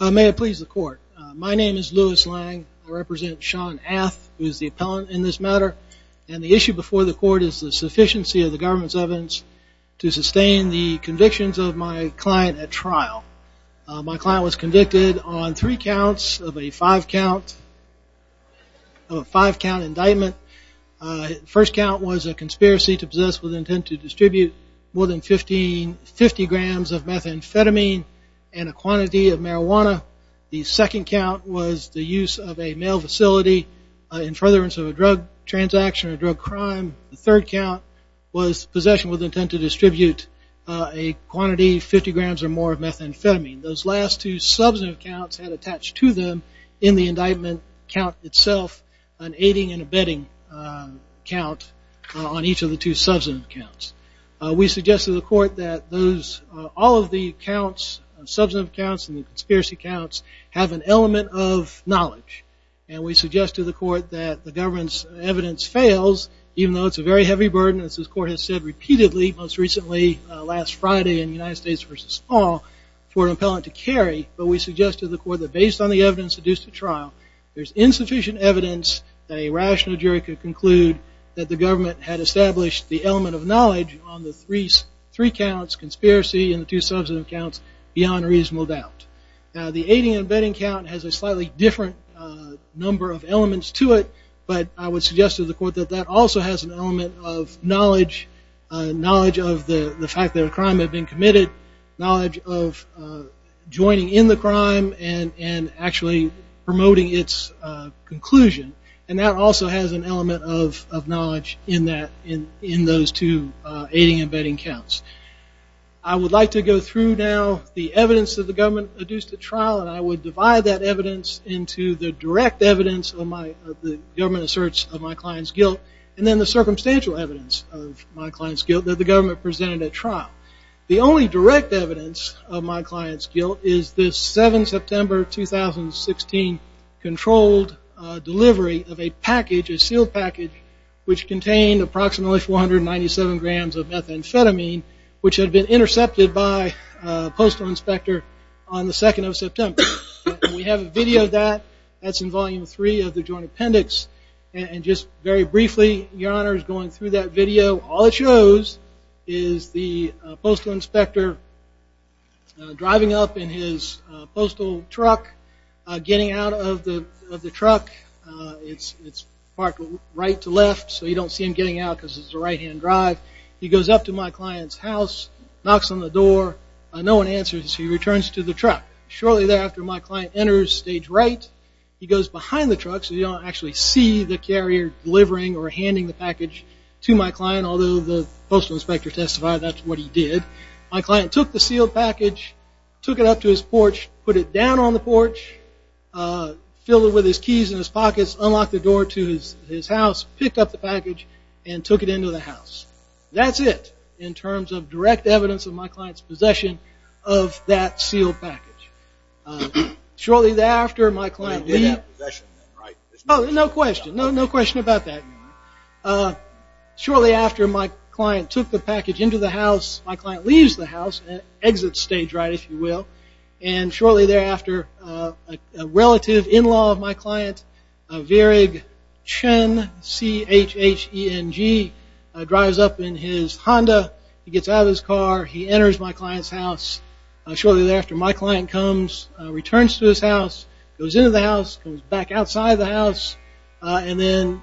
May it please the court. My name is Lewis Lang. I represent Sean Ath, who is the appellant in this matter. And the issue before the court is the sufficiency of the government's evidence to sustain the convictions of my client at trial. My client was convicted on three counts of a five count indictment. First count was a conspiracy to possess with intent to distribute more than 50 grams of methamphetamine and a quantity of marijuana. The second count was the use of a mail facility in furtherance of a drug transaction or drug crime. The third count was possession with intent to distribute a quantity 50 grams or more of methamphetamine. Those last two substantive counts had attached to them in the indictment count itself an aiding and abetting count on each of the two substantive counts. We suggest to the court that all of the counts, substantive counts and the conspiracy counts, have an element of knowledge. And we suggest to the court that the government's evidence fails, even though it's a very heavy burden, as this court has said repeatedly, most recently last Friday in United States v. Paul, for an appellant to carry. But we suggest to the court that based on the evidence deduced at trial, there's insufficient evidence that a rational jury could conclude that the government had established the element of knowledge on the three counts, conspiracy and the two substantive counts, beyond reasonable doubt. The aiding and abetting count has a slightly different number of elements to it, but I would suggest to the court that that also has an element of knowledge, knowledge of the fact that a crime had been committed, knowledge of joining in the crime and actually promoting its conclusion. And that also has an element of knowledge in those two aiding and abetting counts. I would like to go through now the evidence that the government deduced at trial, and I would divide that evidence into the direct evidence of the government asserts of my client's guilt and then the circumstantial evidence of my client's guilt that the government presented at trial. The only direct evidence of my client's guilt is the 7 September 2016 controlled delivery of a package, a sealed package, which contained approximately 497 grams of methamphetamine, which had been intercepted by a postal inspector on the 2nd of September. We have a video of that. That's in Volume 3 of the Joint Appendix. And just very briefly, Your Honor, is going through that video. All it shows is the postal inspector driving up in his postal truck, getting out of the truck. It's parked right to left, so you don't see him getting out because it's a right-hand drive. He goes up to my client's house, knocks on the door. No one answers, so he returns to the truck. Shortly thereafter, my client enters stage right. He goes behind the truck, so you don't actually see the carrier delivering or handing the package to my client, although the postal inspector testified that's what he did. My client took the sealed package, took it up to his porch, put it down on the porch, filled it with his keys in his pockets, unlocked the door to his house, picked up the package, and took it into the house. That's it in terms of direct evidence of my client's possession of that sealed package. They did have possession then, right? Returns to his house, goes into the house, goes back outside the house, and then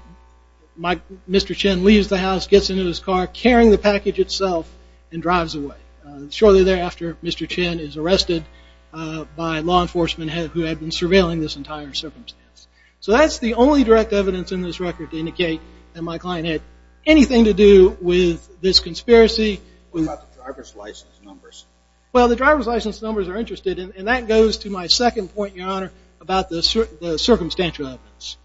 Mr. Chen leaves the house, gets into his car, carrying the package itself, and drives away. Shortly thereafter, Mr. Chen is arrested by law enforcement who had been surveilling this entire circumstance. So that's the only direct evidence in this record to indicate that my client had anything to do with this conspiracy. What about the driver's license numbers? Well, the driver's license numbers are interesting, and that goes to my second point, Your Honor, about the circumstantial evidence.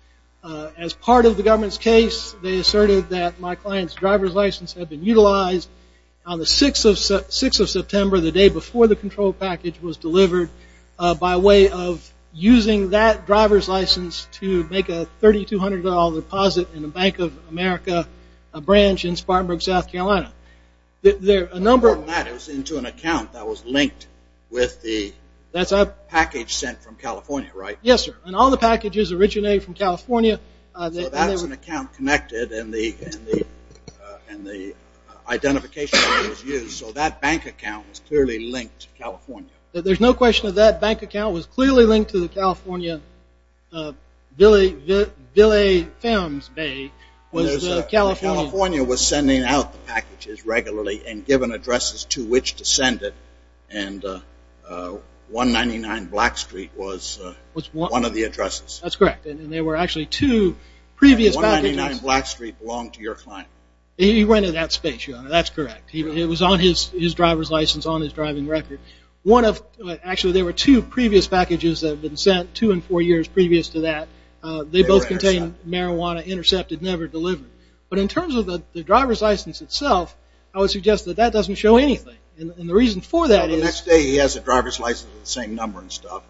As part of the government's case, they asserted that my client's driver's license had been utilized on the 6th of September, the day before the control package was delivered, by way of using that driver's license to make a $3,200 deposit in the Bank of America branch in Spartanburg, South Carolina. It was into an account that was linked with the package sent from California, right? Yes, sir. And all the packages originated from California. So that's an account connected, and the identification number was used, so that bank account was clearly linked to California. There's no question of that. Bank account was clearly linked to the California, Billy Femmes Bay. California was sending out the packages regularly and giving addresses to which to send it, and 199 Black Street was one of the addresses. That's correct, and there were actually two previous packages. 199 Black Street belonged to your client. He rented that space, Your Honor. That's correct. It was on his driver's license, on his driving record. Actually, there were two previous packages that had been sent, two and four years previous to that. They both contained marijuana, intercepted, never delivered. But in terms of the driver's license itself, I would suggest that that doesn't show anything, and the reason for that is... Well, the next day he has a driver's license with the same number and stuff.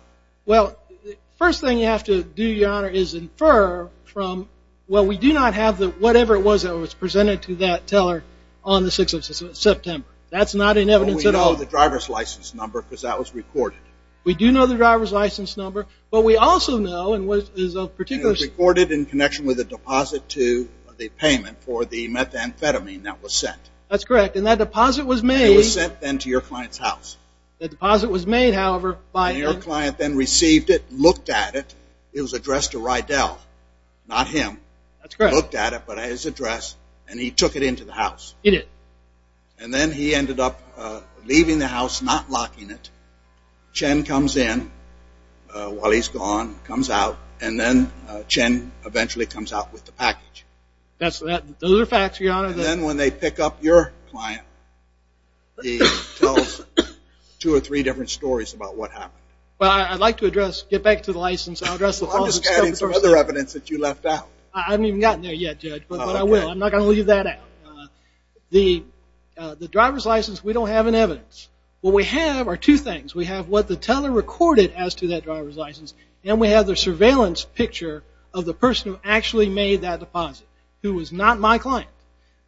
Well, the first thing you have to do, Your Honor, is infer from... Well, we do not have whatever it was that was presented to that teller on the 6th of September. That's not in evidence at all. But we know the driver's license number because that was recorded. We do know the driver's license number, but we also know... It was recorded in connection with a deposit to the payment for the methamphetamine that was sent. That's correct, and that deposit was made... It was sent then to your client's house. That deposit was made, however, by... Your client then received it, looked at it. It was addressed to Rydell, not him. That's correct. He looked at it, but at his address, and he took it into the house. He did. And then he ended up leaving the house, not locking it. Chen comes in while he's gone, comes out, and then Chen eventually comes out with the package. Those are facts, Your Honor. And then when they pick up your client, he tells two or three different stories about what happened. Well, I'd like to address, get back to the license. I'll address the... I'm just adding some other evidence that you left out. I haven't even gotten there yet, Judge, but I will. I'm not going to leave that out. The driver's license, we don't have an evidence. What we have are two things. We have what the teller recorded as to that driver's license, and we have the surveillance picture of the person who actually made that deposit, who was not my client.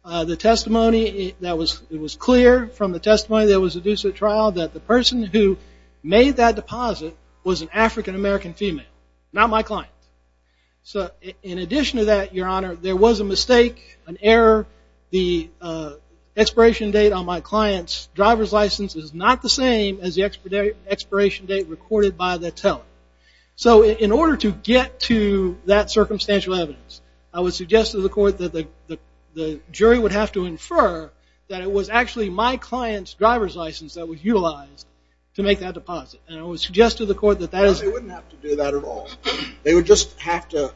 The testimony that was clear from the testimony that was adduced at trial, that the person who made that deposit was an African-American female, not my client. So in addition to that, Your Honor, there was a mistake, an error. The expiration date on my client's driver's license is not the same as the expiration date recorded by the teller. So in order to get to that circumstantial evidence, I would suggest to the court that the jury would have to infer that it was actually my client's driver's license that was utilized to make that deposit. And I would suggest to the court that that is... They would just have to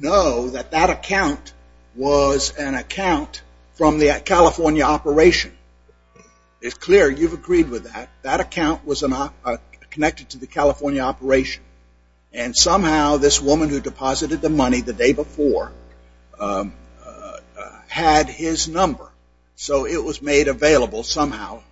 know that that account was an account from the California operation. It's clear you've agreed with that. That account was connected to the California operation. And somehow this woman who deposited the money the day before had his number. So it was made available somehow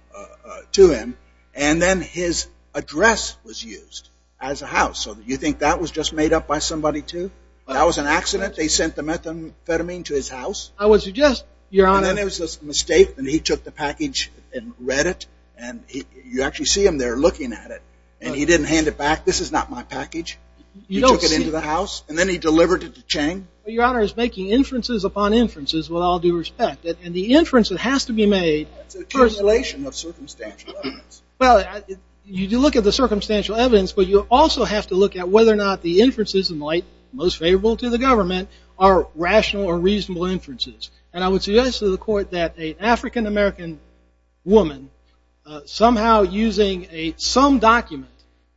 to him. And then his address was used as a house. So you think that was just made up by somebody, too? That was an accident. They sent the methamphetamine to his house. I would suggest, Your Honor... And then there was this mistake, and he took the package and read it. And you actually see him there looking at it. And he didn't hand it back. This is not my package. He took it into the house, and then he delivered it to Chang. Your Honor is making inferences upon inferences with all due respect. And the inference that has to be made... Well, you do look at the circumstantial evidence, but you also have to look at whether or not the inferences, in the light most favorable to the government, are rational or reasonable inferences. And I would suggest to the Court that an African-American woman, somehow using some document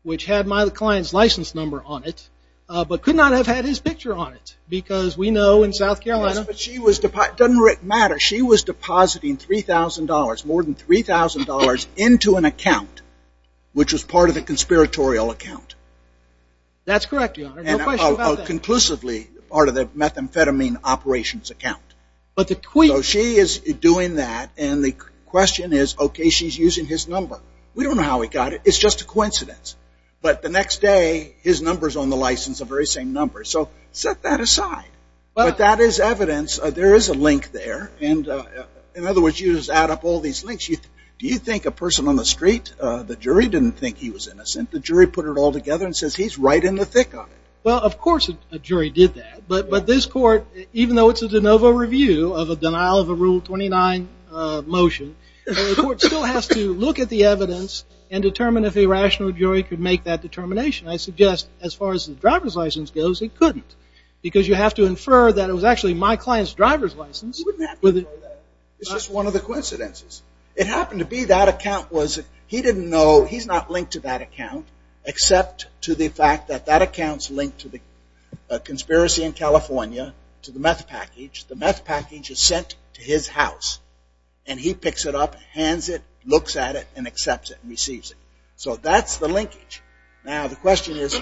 which had my client's license number on it, but could not have had his picture on it because we know in South Carolina... Yes, but she was depositing... It doesn't matter. She was depositing $3,000, more than $3,000, into an account, which was part of a conspiratorial account. That's correct, Your Honor. No question about that. And conclusively part of the methamphetamine operations account. But the... So she is doing that, and the question is, okay, she's using his number. We don't know how he got it. It's just a coincidence. But the next day, his number's on the license, the very same number. So set that aside. But that is evidence. There is a link there. In other words, you just add up all these links. Do you think a person on the street, the jury didn't think he was innocent? The jury put it all together and says he's right in the thick of it. Well, of course a jury did that. But this Court, even though it's a de novo review of a denial of a Rule 29 motion, the Court still has to look at the evidence and determine if a rational jury could make that determination. I suggest as far as the driver's license goes, it couldn't. Because you have to infer that it was actually my client's driver's license. You wouldn't have to know that. It's just one of the coincidences. It happened to be that account was, he didn't know, he's not linked to that account, except to the fact that that account's linked to the conspiracy in California, to the meth package. The meth package is sent to his house, and he picks it up, hands it, looks at it, and accepts it and receives it. So that's the linkage. Now, the question is,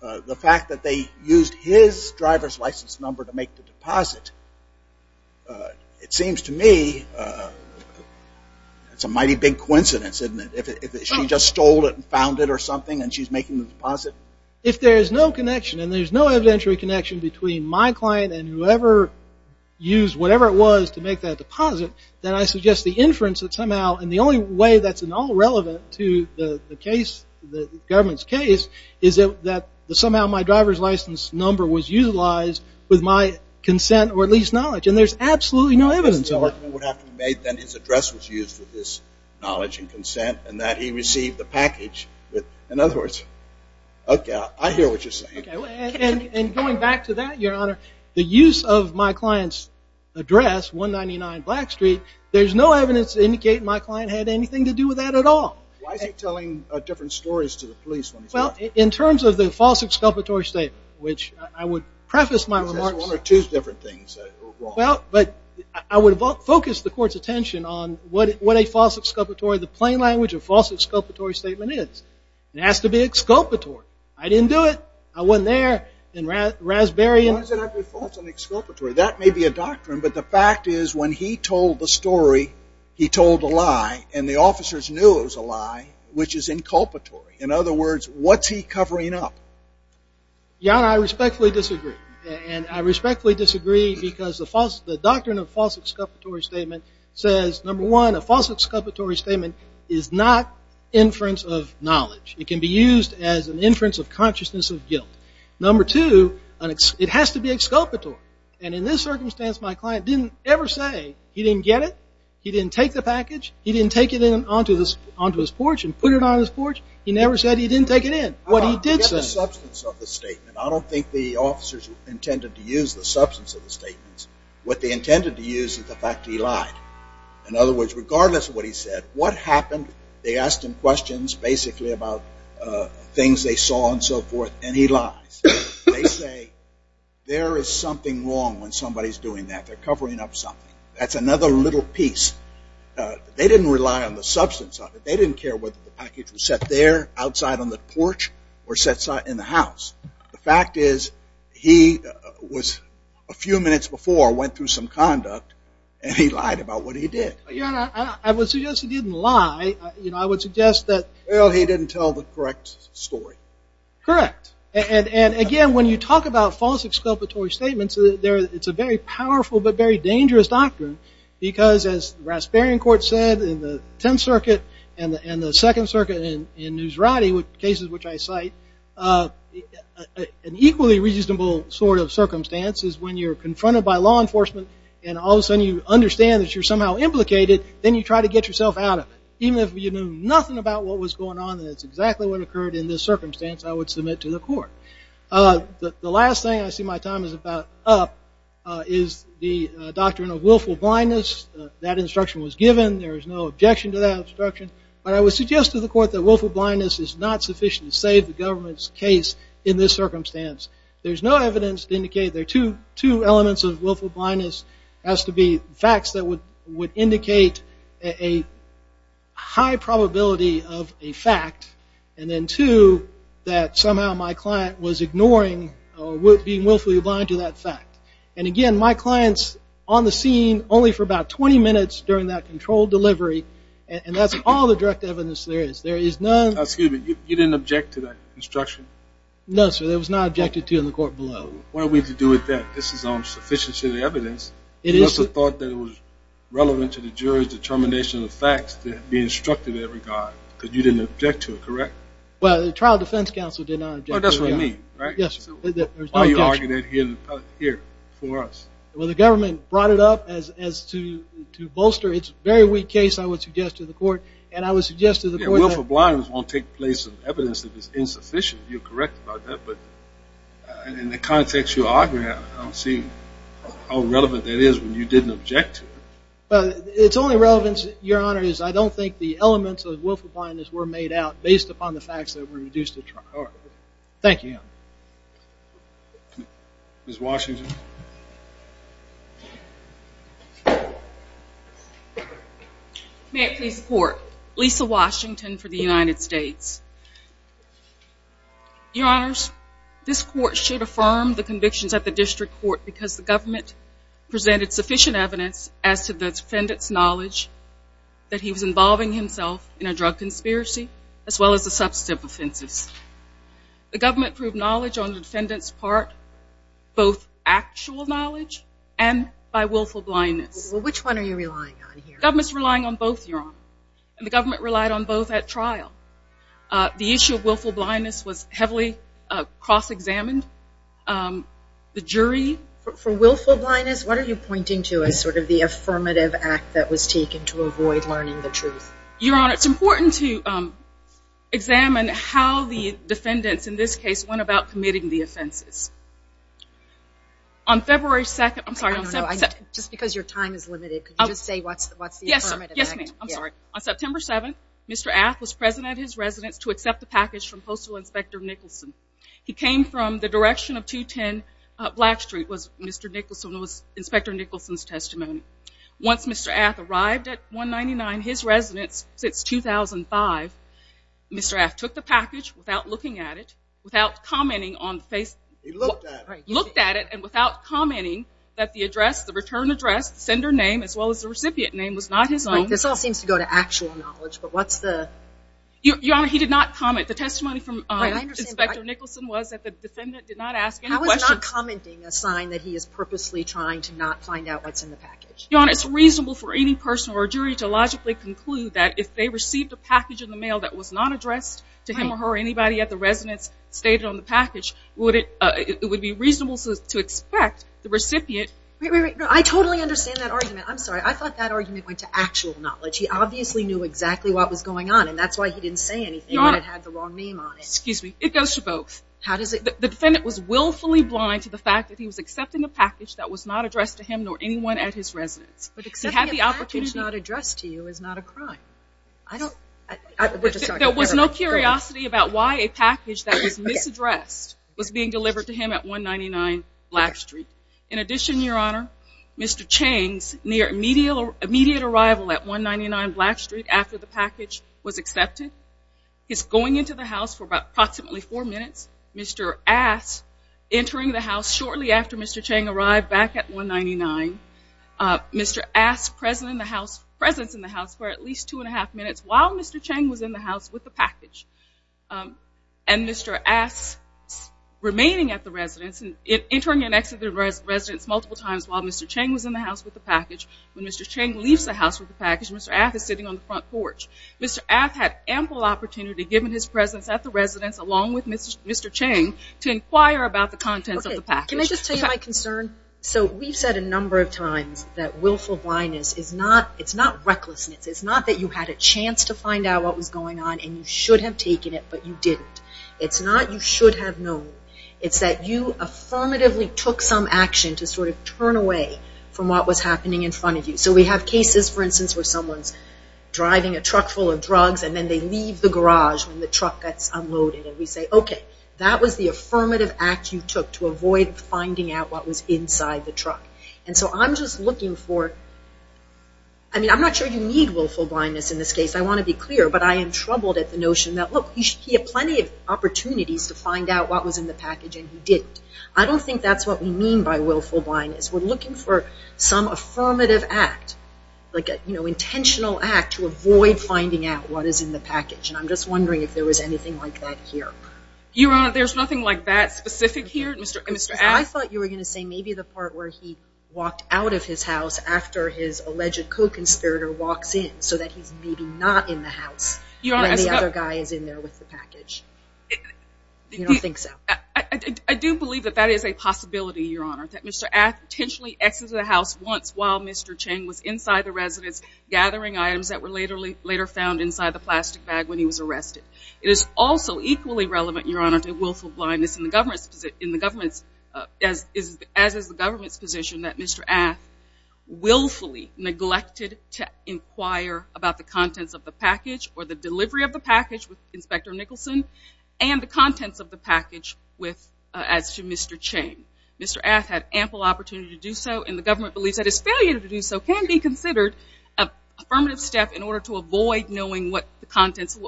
the fact that they used his driver's license number to make the deposit, it seems to me it's a mighty big coincidence, isn't it, if she just stole it and found it or something, and she's making the deposit? If there's no connection, and there's no evidentiary connection between my client and whoever used whatever it was to make that deposit, then I suggest the inference that somehow, and the only way that's at all relevant to the case, the government's case, is that somehow my driver's license number was utilized with my consent or at least knowledge. And there's absolutely no evidence of it. Then his address was used for this knowledge and consent, and that he received the package. In other words, okay, I hear what you're saying. And going back to that, Your Honor, the use of my client's address, 199 Black Street, there's no evidence to indicate my client had anything to do with that at all. Why is he telling different stories to the police when he's not? Well, in terms of the false exculpatory statement, which I would preface my remarks. One or two different things. Well, but I would focus the Court's attention on what a false exculpatory, the plain language of false exculpatory statement is. It has to be exculpatory. I didn't do it. I wasn't there in Raspberry. Why does it have to be false and exculpatory? That may be a doctrine, but the fact is when he told the story, he told a lie, and the officers knew it was a lie, which is inculpatory. In other words, what's he covering up? Your Honor, I respectfully disagree. And I respectfully disagree because the doctrine of false exculpatory statement says, number one, a false exculpatory statement is not inference of knowledge. It can be used as an inference of consciousness of guilt. Number two, it has to be exculpatory. And in this circumstance, my client didn't ever say he didn't get it, he didn't take the package, he didn't take it onto his porch and put it on his porch. He never said he didn't take it in. What he did say. Forget the substance of the statement. I don't think the officers intended to use the substance of the statements. What they intended to use is the fact that he lied. In other words, regardless of what he said, what happened, they asked him questions basically about things they saw and so forth, and he lies. They say there is something wrong when somebody's doing that. They're covering up something. That's another little piece. They didn't rely on the substance of it. They didn't care whether the package was set there, outside on the porch, or set in the house. The fact is he was a few minutes before went through some conduct, and he lied about what he did. Your Honor, I would suggest he didn't lie. You know, I would suggest that. Well, he didn't tell the correct story. Correct. And, again, when you talk about false exculpatory statements, it's a very powerful but very dangerous doctrine because, as the Raspberrian Court said, in the Tenth Circuit and the Second Circuit in Newsradi, cases which I cite, an equally reasonable sort of circumstance is when you're confronted by law enforcement and all of a sudden you understand that you're somehow implicated, then you try to get yourself out of it. Even if you knew nothing about what was going on, and it's exactly what occurred in this circumstance, I would submit to the court. The last thing I see my time is about up is the doctrine of willful blindness. That instruction was given. There is no objection to that instruction. But I would suggest to the court that willful blindness is not sufficient to save the government's case in this circumstance. There's no evidence to indicate there are two elements of willful blindness. It has to be facts that would indicate a high probability of a fact, and then, two, that somehow my client was ignoring or being willfully blind to that fact. And, again, my client's on the scene only for about 20 minutes during that controlled delivery, and that's all the direct evidence there is. There is none. Excuse me. You didn't object to that instruction? No, sir. It was not objected to in the court below. What do we have to do with that? This is on sufficiency of evidence. You also thought that it was relevant to the jury's determination of facts to be instructive in every regard because you didn't object to it, correct? Well, the trial defense counsel did not object to it. That's what I mean, right? Yes. Why are you arguing that here for us? Well, the government brought it up as to bolster its very weak case, I would suggest, to the court, and I would suggest to the court that... Willful blindness won't take place in evidence if it's insufficient. You're correct about that, but in the context you're arguing, I don't see how relevant that is when you didn't object to it. Well, its only relevance, Your Honor, is I don't think the elements of willful blindness were made out based upon the facts that were introduced at trial. All right. Thank you, Your Honor. Ms. Washington. May it please the court, Lisa Washington for the United States. Your Honors, this court should affirm the convictions at the district court because the government presented sufficient evidence as to the defendant's knowledge that he was involving himself in a drug conspiracy as well as the substantive offenses. The government proved knowledge on the defendant's part, both actual knowledge and by willful blindness. Well, which one are you relying on here? The government's relying on both, Your Honor, and the government relied on both at trial. The issue of willful blindness was heavily cross-examined. The jury... For willful blindness, what are you pointing to as sort of the affirmative act that was taken to avoid learning the truth? Your Honor, it's important to examine how the defendants, in this case, went about committing the offenses. On February 2nd... I'm sorry. Just because your time is limited, could you just say what's the affirmative act? Yes, ma'am. I'm sorry. On September 7th, Mr. Ath was present at his residence to accept the package from Postal Inspector Nicholson. He came from the direction of 210 Black Street, was Inspector Nicholson's testimony. Once Mr. Ath arrived at 199, his residence since 2005, Mr. Ath took the package without looking at it, without commenting on the face... He looked at it. He looked at it and without commenting that the address, the return address, the sender name as well as the recipient name was not his own. This all seems to go to actual knowledge, but what's the... Your Honor, he did not comment. The testimony from Inspector Nicholson was that the defendant did not ask any questions. I was not commenting a sign that he is purposely trying to not find out what's in the package. Your Honor, it's reasonable for any person or jury to logically conclude that if they received a package in the mail that was not addressed to him or her, or anybody at the residence stated on the package, it would be reasonable to expect the recipient... Wait, wait, wait. I totally understand that argument. I'm sorry. I thought that argument went to actual knowledge. He obviously knew exactly what was going on, and that's why he didn't say anything that had the wrong name on it. Excuse me. It goes to both. How does it... The defendant was willfully blind to the fact that he was accepting a package that was not addressed to him nor anyone at his residence. But accepting a package not addressed to you is not a crime. I don't... There was no curiosity about why a package that was misaddressed was being delivered to him at 199 Black Street. In addition, Your Honor, Mr. Chang's immediate arrival at 199 Black Street after the package was accepted, his going into the house for approximately 4 minutes, Mr. Ass entering the house shortly after Mr. Chang arrived back at 199, Mr. Ass' presence in the house for at least 2 1⁄2 minutes while Mr. Chang was in the house with the package, and Mr. Ass remaining at the residence, entering and exiting the residence multiple times while Mr. Chang was in the house with the package. When Mr. Chang leaves the house with the package, Mr. Ass is sitting on the front porch. Mr. Ass had ample opportunity given his presence at the residence along with Mr. Chang to inquire about the contents of the package. Can I just tell you my concern? So we've said a number of times that willful blindness is not recklessness. It's not that you had a chance to find out what was going on and you should have taken it, but you didn't. It's not you should have known. It's that you affirmatively took some action to sort of turn away from what was happening in front of you. So we have cases, for instance, where someone's driving a truck full of drugs and then they leave the garage when the truck gets unloaded, and we say, okay, that was the affirmative act you took to avoid finding out what was inside the truck. And so I'm just looking for... I mean, I'm not sure you need willful blindness in this case. I want to be clear, but I am troubled at the notion that, look, he had plenty of opportunities to find out what was in the package and he didn't. I don't think that's what we mean by willful blindness. We're looking for some affirmative act, like an intentional act to avoid finding out what is in the package, and I'm just wondering if there was anything like that here. Your Honor, there's nothing like that specific here? I thought you were going to say maybe the part where he walked out of his house after his alleged co-conspirator walks in so that he's maybe not in the house when the other guy is in there with the package. You don't think so? I do believe that that is a possibility, Your Honor, that Mr. Ath potentially exits the house once while Mr. Cheng was inside the residence gathering items that were later found inside the plastic bag when he was arrested. It is also equally relevant, Your Honor, to willful blindness in the government's... as is the government's position that Mr. Ath willfully neglected to inquire about the contents of the package or the delivery of the package with Inspector Nicholson and the contents of the package as to Mr. Cheng. Mr. Ath had ample opportunity to do so, and the government believes that his failure to do so can be considered an affirmative step in order to avoid knowing what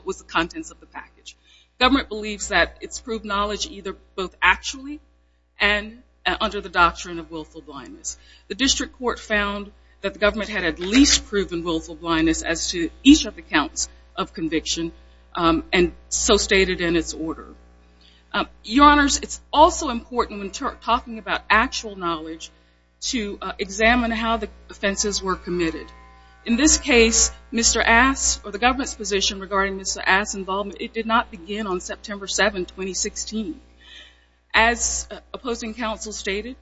was the contents of the package. Government believes that it's proved knowledge either both actually and under the doctrine of willful blindness. The district court found that the government had at least proven willful blindness as to each of the counts of conviction and so stated in its order. Your Honors, it's also important when talking about actual knowledge to examine how the offenses were committed. In this case, Mr. Ath's or the government's position regarding Mr. Ath's involvement, it did not begin on September 7, 2016. As opposing counsel stated,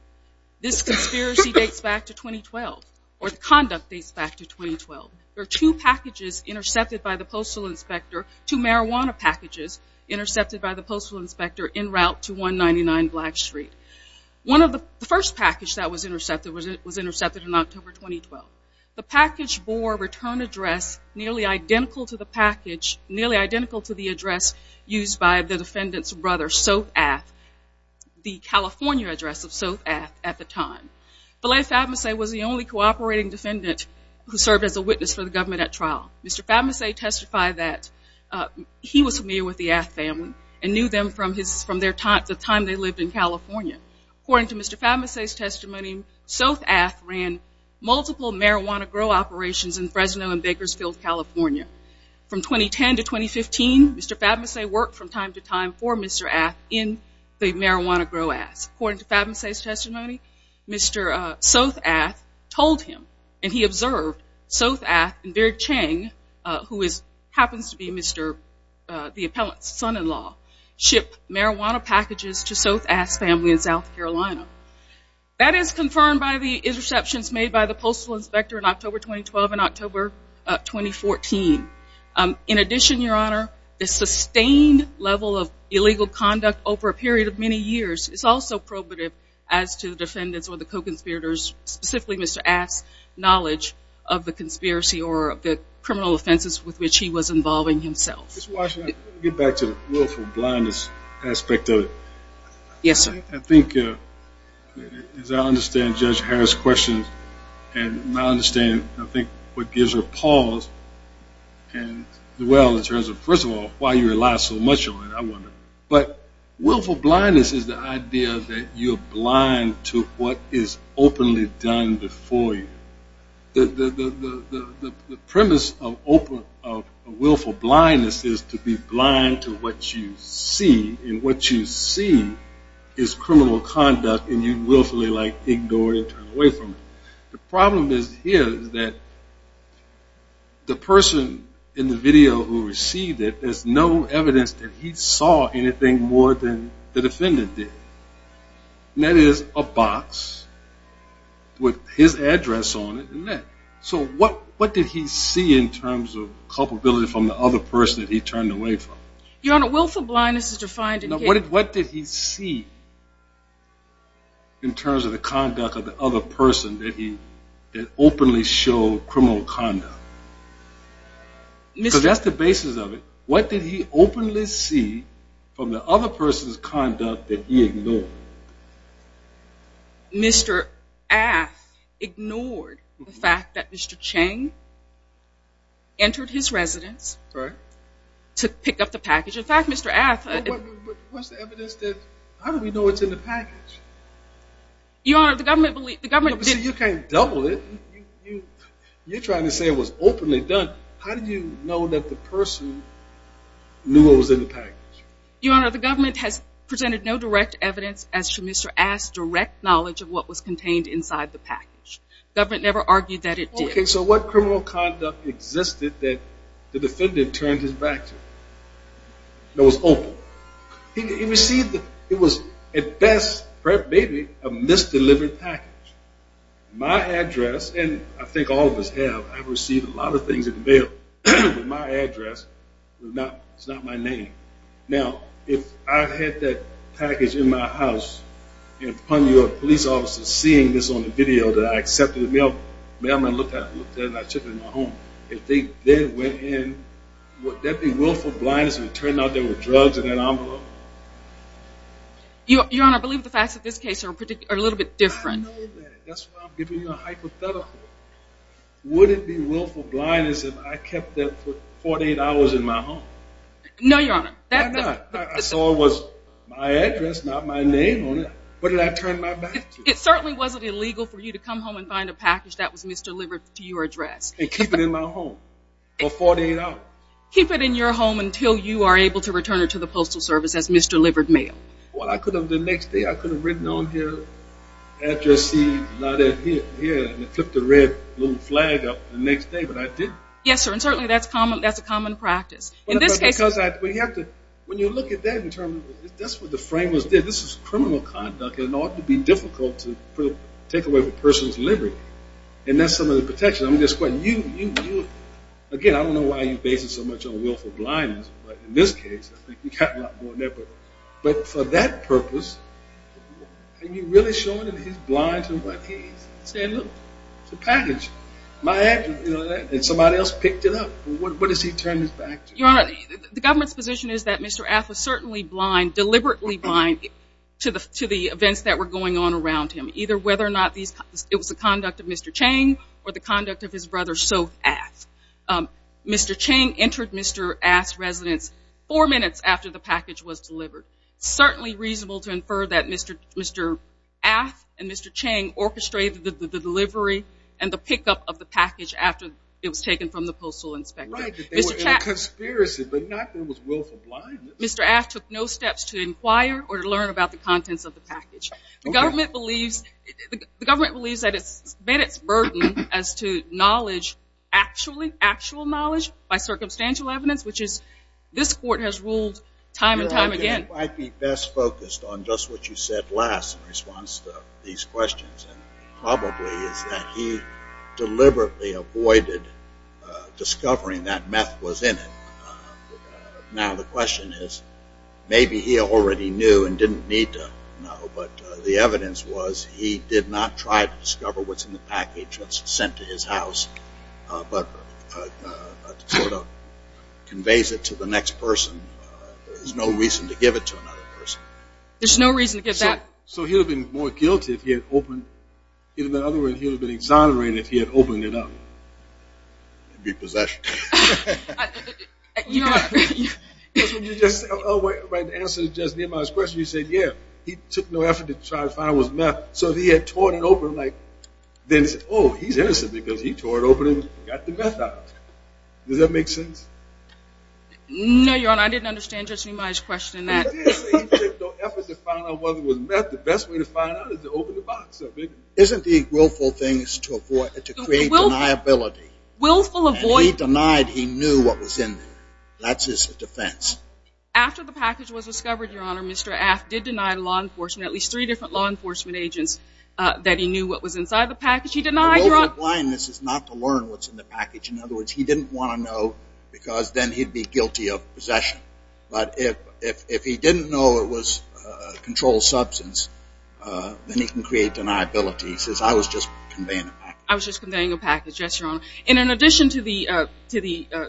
this conspiracy dates back to 2012 or the conduct dates back to 2012. There are two packages intercepted by the postal inspector, two marijuana packages intercepted by the postal inspector en route to 199 Black Street. One of the first package that was intercepted was intercepted in October 2012. The package bore a return address nearly identical to the package, the address used by the defendant's brother, Sothe Ath, the California address of Sothe Ath at the time. Belay Fabmase was the only cooperating defendant who served as a witness for the government at trial. Mr. Fabmase testified that he was familiar with the Ath family and knew them from the time they lived in California. According to Mr. Fabmase's testimony, Sothe Ath ran multiple marijuana grow operations in Fresno and Bakersfield, California. From 2010 to 2015, Mr. Fabmase worked from time to time for Mr. Ath in the marijuana grow Ath. According to Fabmase's testimony, Mr. Sothe Ath told him, and he observed, Sothe Ath and Bird Chang, who happens to be the appellant's son-in-law, shipped marijuana packages to Sothe Ath's family in South Carolina. That is confirmed by the interceptions made by the postal inspector in October 2012 and October 2014. In addition, Your Honor, the sustained level of illegal conduct over a period of many years is also probative as to the defendant's or the co-conspirator's, specifically Mr. Ath's, knowledge of the conspiracy or the criminal offenses with which he was involving himself. Ms. Washington, I want to get back to the willful blindness aspect of it. Yes, sir. I think, as I understand Judge Harris' questions and I understand, I think, what gives her pause, and, well, in terms of, first of all, why you rely so much on it, I wonder, but willful blindness is the idea that you're blind to what is openly done before you. The premise of willful blindness is to be blind to what you see, and what you see is criminal conduct, and you willfully, like, ignore it and turn away from it. The problem here is that the person in the video who received it, there's no evidence that he saw anything more than the defendant did, and that is a box with his address on it. So what did he see in terms of culpability from the other person that he turned away from? Your Honor, willful blindness is defined in case. What did he see in terms of the conduct of the other person that openly showed criminal conduct? Because that's the basis of it. What did he openly see from the other person's conduct that he ignored? Mr. Ath ignored the fact that Mr. Chang entered his residence to pick up the package. In fact, Mr. Ath – But what's the evidence that – how do we know it's in the package? Your Honor, the government – You can't double it. You're trying to say it was openly done. How do you know that the person knew what was in the package? Your Honor, the government has presented no direct evidence as to Mr. Ath's direct knowledge of what was contained inside the package. The government never argued that it did. Okay, so what criminal conduct existed that the defendant turned his back to that was open? He received – it was, at best, maybe a misdelivered package. My address – and I think all of us have – I've received a lot of things in the mail, but my address is not my name. Now, if I had that package in my house, and upon your police officers seeing this on the video that I accepted, the mailman looked at it, looked at it, and I took it in my home. If they went in, would there be willful blindness if it turned out there were drugs in that envelope? Your Honor, I believe the facts of this case are a little bit different. I know that. That's why I'm giving you a hypothetical. Would it be willful blindness if I kept that for 48 hours in my home? No, Your Honor. Why not? I saw it was my address, not my name on it. What did I turn my back to? It certainly wasn't illegal for you to come home and find a package that was misdelivered to your address. And keep it in my home for 48 hours? Keep it in your home until you are able to return it to the Postal Service as misdelivered mail. Well, I could have the next day. I could have written on here, Address C, not here, and put the red little flag up the next day, but I didn't. Yes, sir, and certainly that's a common practice. When you look at that, that's what the framers did. This is criminal conduct. It ought to be difficult to take away a person's liberty, and that's some of the protection. Again, I don't know why you base it so much on willful blindness, but in this case, I think you've got a lot more than that. But for that purpose, are you really sure that he's blind to what he's saying? Look, it's a package. My address, you know that, and somebody else picked it up. What does he turn his back to? Your Honor, the government's position is that Mr. Affler is certainly blind, deliberately blind, to the events that were going on around him, either whether or not it was the conduct of Mr. Chang or the conduct of his brother, Soph Aff. Mr. Chang entered Mr. Aff's residence four minutes after the package was delivered. It's certainly reasonable to infer that Mr. Aff and Mr. Chang orchestrated the delivery and the pickup of the package after it was taken from the postal inspector. Right, that they were in a conspiracy, but not that it was willful blindness. Mr. Aff took no steps to inquire or to learn about the contents of the package. The government believes that it's met its burden as to knowledge, actual knowledge by circumstantial evidence, which this court has ruled time and time again. Your Honor, I think it might be best focused on just what you said last in response to these questions, and probably is that he deliberately avoided discovering that meth was in it. Now the question is, maybe he already knew and didn't need to know, but the evidence was he did not try to discover what's in the package that's sent to his house, but sort of conveys it to the next person. There's no reason to give it to another person. There's no reason to give that. So he would have been more guilty if he had opened, in other words, he would have been exonerated if he had opened it up. He'd be possessed. That's what you just said. The answer to Judge Niemeyer's question, you said, yeah, he took no effort to try to find out what's in the meth. So if he had tore it open, then it's, oh, he's innocent because he tore it open and got the meth out. Does that make sense? No, Your Honor. I didn't understand Judge Niemeyer's question in that. He did say he took no effort to find out whether it was meth. The best way to find out is to open the box of it. Isn't the willful thing to avoid, to create deniability? Willful avoid. And he denied he knew what was in there. That's his defense. After the package was discovered, Your Honor, Mr. Aft did deny law enforcement, at least three different law enforcement agents, that he knew what was inside the package. He denied, Your Honor. The goal of blindness is not to learn what's in the package. In other words, he didn't want to know because then he'd be guilty of possession. But if he didn't know it was a controlled substance, then he can create deniability. He says, I was just conveying a package. I was just conveying a package. Yes, Your Honor. And in addition to the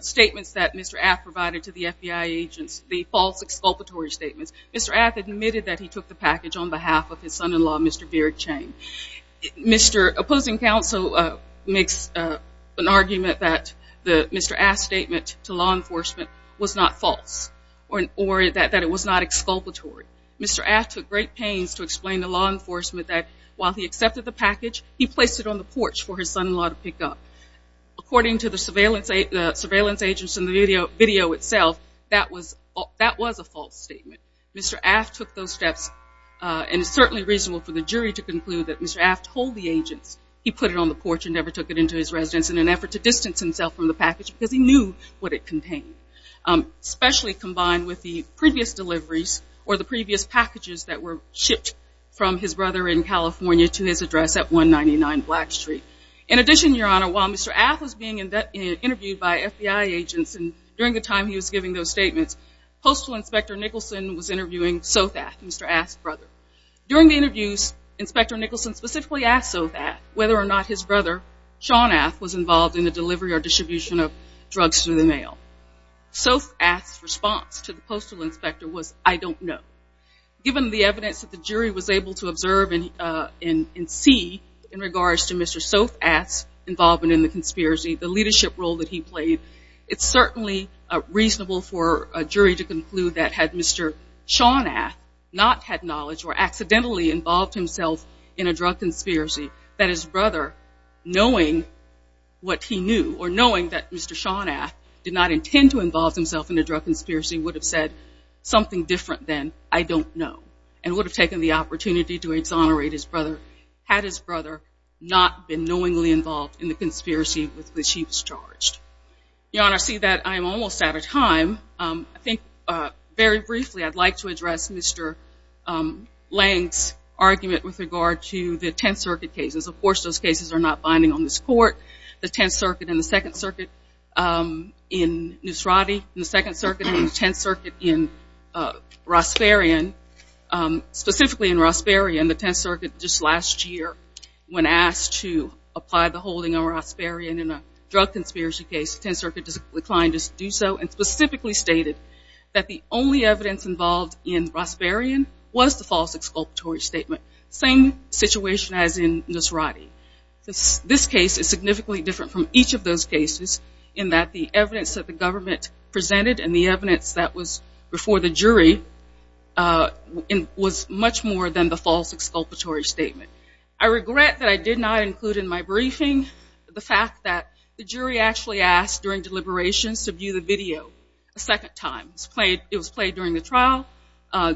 statements that Mr. Aft provided to the FBI agents, the false exculpatory statements, Mr. Aft admitted that he took the package on behalf of his son-in-law, Mr. Beard Chang. Mr. opposing counsel makes an argument that Mr. Aft's statement to law enforcement was not false or that it was not exculpatory. Mr. Aft took great pains to explain to law enforcement that while he accepted the package, he placed it on the porch for his son-in-law to pick up. According to the surveillance agents in the video itself, that was a false statement. Mr. Aft took those steps, and it's certainly reasonable for the jury to conclude that Mr. Aft told the agents he put it on the porch and never took it into his residence in an effort to distance himself from the package because he knew what it contained, especially combined with the previous deliveries or the previous packages that were shipped from his brother in California to his address at 199 Black Street. In addition, Your Honor, while Mr. Aft was being interviewed by FBI agents and during the time he was giving those statements, Postal Inspector Nicholson was interviewing Sothaft, Mr. Aft's brother. During the interviews, Inspector Nicholson specifically asked Sothaft whether or not his brother, Sean Aft, was involved in the delivery or distribution of drugs through the mail. Sothaft's response to the Postal Inspector was, I don't know. Given the evidence that the jury was able to observe and see in regards to Mr. Sothaft's involvement in the conspiracy, the leadership role that he played, it's certainly reasonable for a jury to conclude that had Mr. Sean Aft not had knowledge or accidentally involved himself in a drug conspiracy, that his brother, knowing what he knew or knowing that Mr. Sean Aft did not intend to involve himself in a drug conspiracy, would have said something different than, I don't know, and would have taken the opportunity to exonerate his brother had his brother not been knowingly involved in the conspiracy with which he was charged. Your Honor, I see that I am almost out of time. I think very briefly I'd like to address Mr. Lange's argument with regard to the Tenth Circuit cases. Of course those cases are not binding on this Court. The Tenth Circuit and the Second Circuit in Nusrati, and the Second Circuit and the Tenth Circuit in Raspberrian, specifically in Raspberrian, the Tenth Circuit just last year when asked to apply the holding on Raspberrian in a drug conspiracy case, the Tenth Circuit declined to do so and specifically stated that the only evidence involved in Raspberrian was the false exculpatory statement. Same situation as in Nusrati. This case is significantly different from each of those cases in that the evidence that the government presented and the evidence that was before the jury was much more than the false exculpatory statement. I regret that I did not include in my briefing the fact that the jury actually asked during deliberations to view the video a second time. It was played during the trial.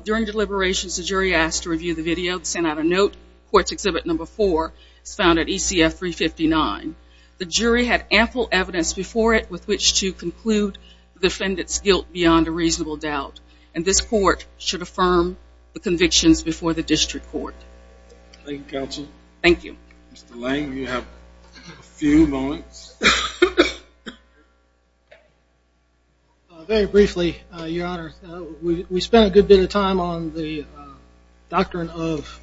During deliberations the jury asked to review the video, sent out a note. Court's exhibit number four is found at ECF 359. The jury had ample evidence before it with which to conclude the defendant's guilt beyond a reasonable doubt, and this Court should affirm the convictions before the district court. Thank you, counsel. Thank you. Mr. Lang, you have a few moments. Very briefly, Your Honor. We spent a good bit of time on the doctrine of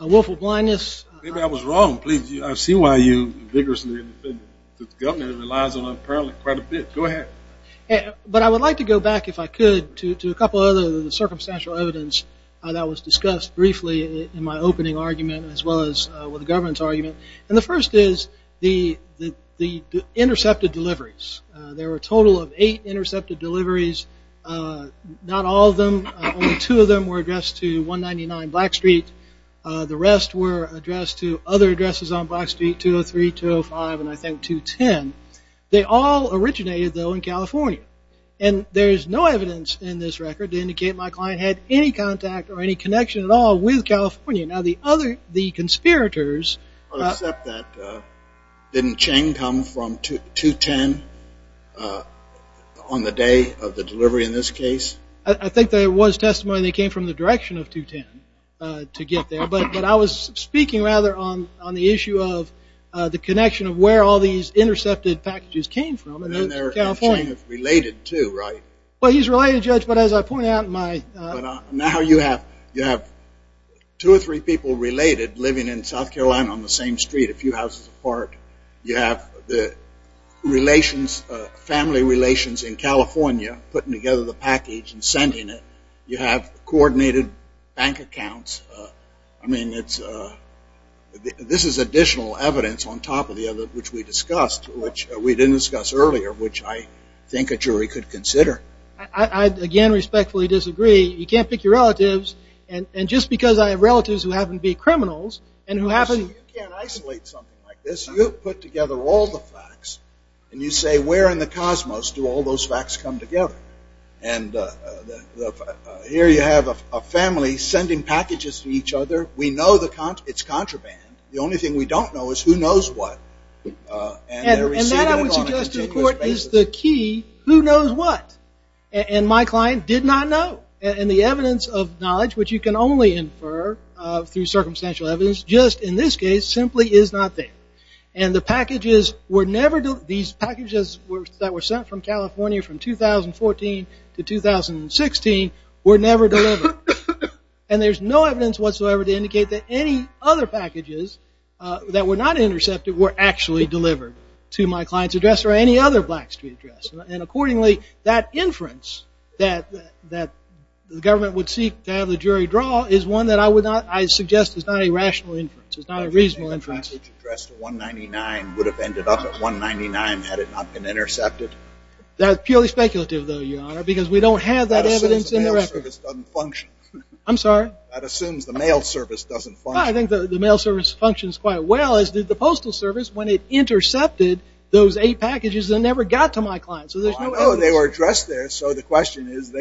willful blindness. Maybe I was wrong. I see why you vigorously defended it. The government relies on it apparently quite a bit. Go ahead. But I would like to go back, if I could, to a couple of other circumstantial evidence that was discussed briefly in my opening argument as well as with the government's argument. And the first is the intercepted deliveries. There were a total of eight intercepted deliveries. Not all of them. Only two of them were addressed to 199 Black Street. The rest were addressed to other addresses on Black Street, 203, 205, and I think 210. They all originated, though, in California. And there is no evidence in this record to indicate my client had any contact or any connection at all with California. Now, the conspirators. I'll accept that. Didn't Chang come from 210 on the day of the delivery in this case? I think there was testimony they came from the direction of 210 to get there. But I was speaking, rather, on the issue of the connection of where all these intercepted packages came from in California. And Chang is related, too, right? Well, he's related, Judge, but as I pointed out in my. But now you have two or three people related living in South Carolina on the same street a few houses apart. You have the relations, family relations in California, putting together the package and sending it. You have coordinated bank accounts. I mean, this is additional evidence on top of the other, which we discussed, which we didn't discuss earlier, which I think a jury could consider. I, again, respectfully disagree. You can't pick your relatives. And just because I have relatives who happen to be criminals and who happen. You can't isolate something like this. You put together all the facts and you say, where in the cosmos do all those facts come together? And here you have a family sending packages to each other. We know it's contraband. The only thing we don't know is who knows what. And that, I would suggest to the court, is the key who knows what. And my client did not know. And the evidence of knowledge, which you can only infer through circumstantial evidence, just in this case simply is not there. And the packages were never delivered. These packages that were sent from California from 2014 to 2016 were never delivered. And there's no evidence whatsoever to indicate that any other packages that were not intercepted were actually delivered to my client's address or any other Black Street address. And accordingly, that inference that the government would seek to have the jury draw is one that I suggest is not a rational inference. It's not a reasonable inference. The package addressed at 199 would have ended up at 199 had it not been intercepted. That's purely speculative, though, Your Honor, because we don't have that evidence in the record. That assumes the mail service doesn't function. I'm sorry? That assumes the mail service doesn't function. Well, I think the mail service functions quite well, as did the postal service, when it intercepted those eight packages that never got to my client. So there's no evidence. Well, I know they were addressed there. So the question is,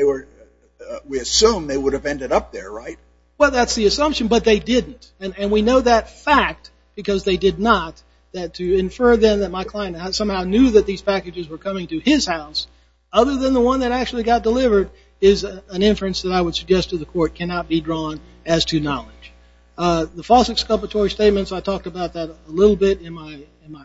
we assume they would have ended up there, right? Well, that's the assumption, but they didn't. And we know that fact because they did not, that to infer then that my client somehow knew that these packages were coming to his house other than the one that actually got delivered is an inference that I would suggest to the court cannot be drawn as to knowledge. The false exculpatory statements, I talked about that a little bit in my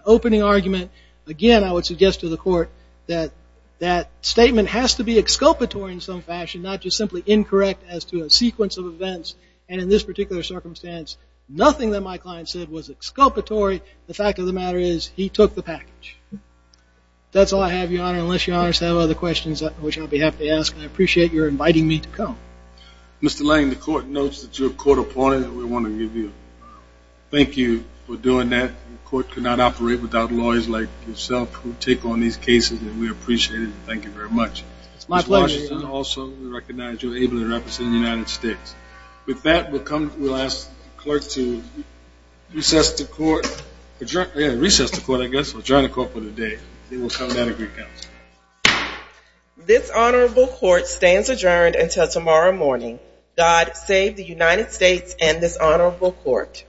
opening argument. Again, I would suggest to the court that that statement has to be exculpatory in some fashion, not just simply incorrect as to a sequence of events. And in this particular circumstance, nothing that my client said was exculpatory. The fact of the matter is he took the package. That's all I have, Your Honor, which I'll be happy to ask, and I appreciate your inviting me to come. Mr. Lang, the court knows that you're a court opponent, and we want to give you a thank you for doing that. The court could not operate without lawyers like yourself who take on these cases, and we appreciate it and thank you very much. It's my pleasure, Your Honor. Also, we recognize you're able to represent the United States. With that, we'll ask the clerk to recess to court. Yeah, recess to court, I guess, or adjourn the court for the day. They will come down to Greek Council. This honorable court stands adjourned until tomorrow morning. God save the United States and this honorable court.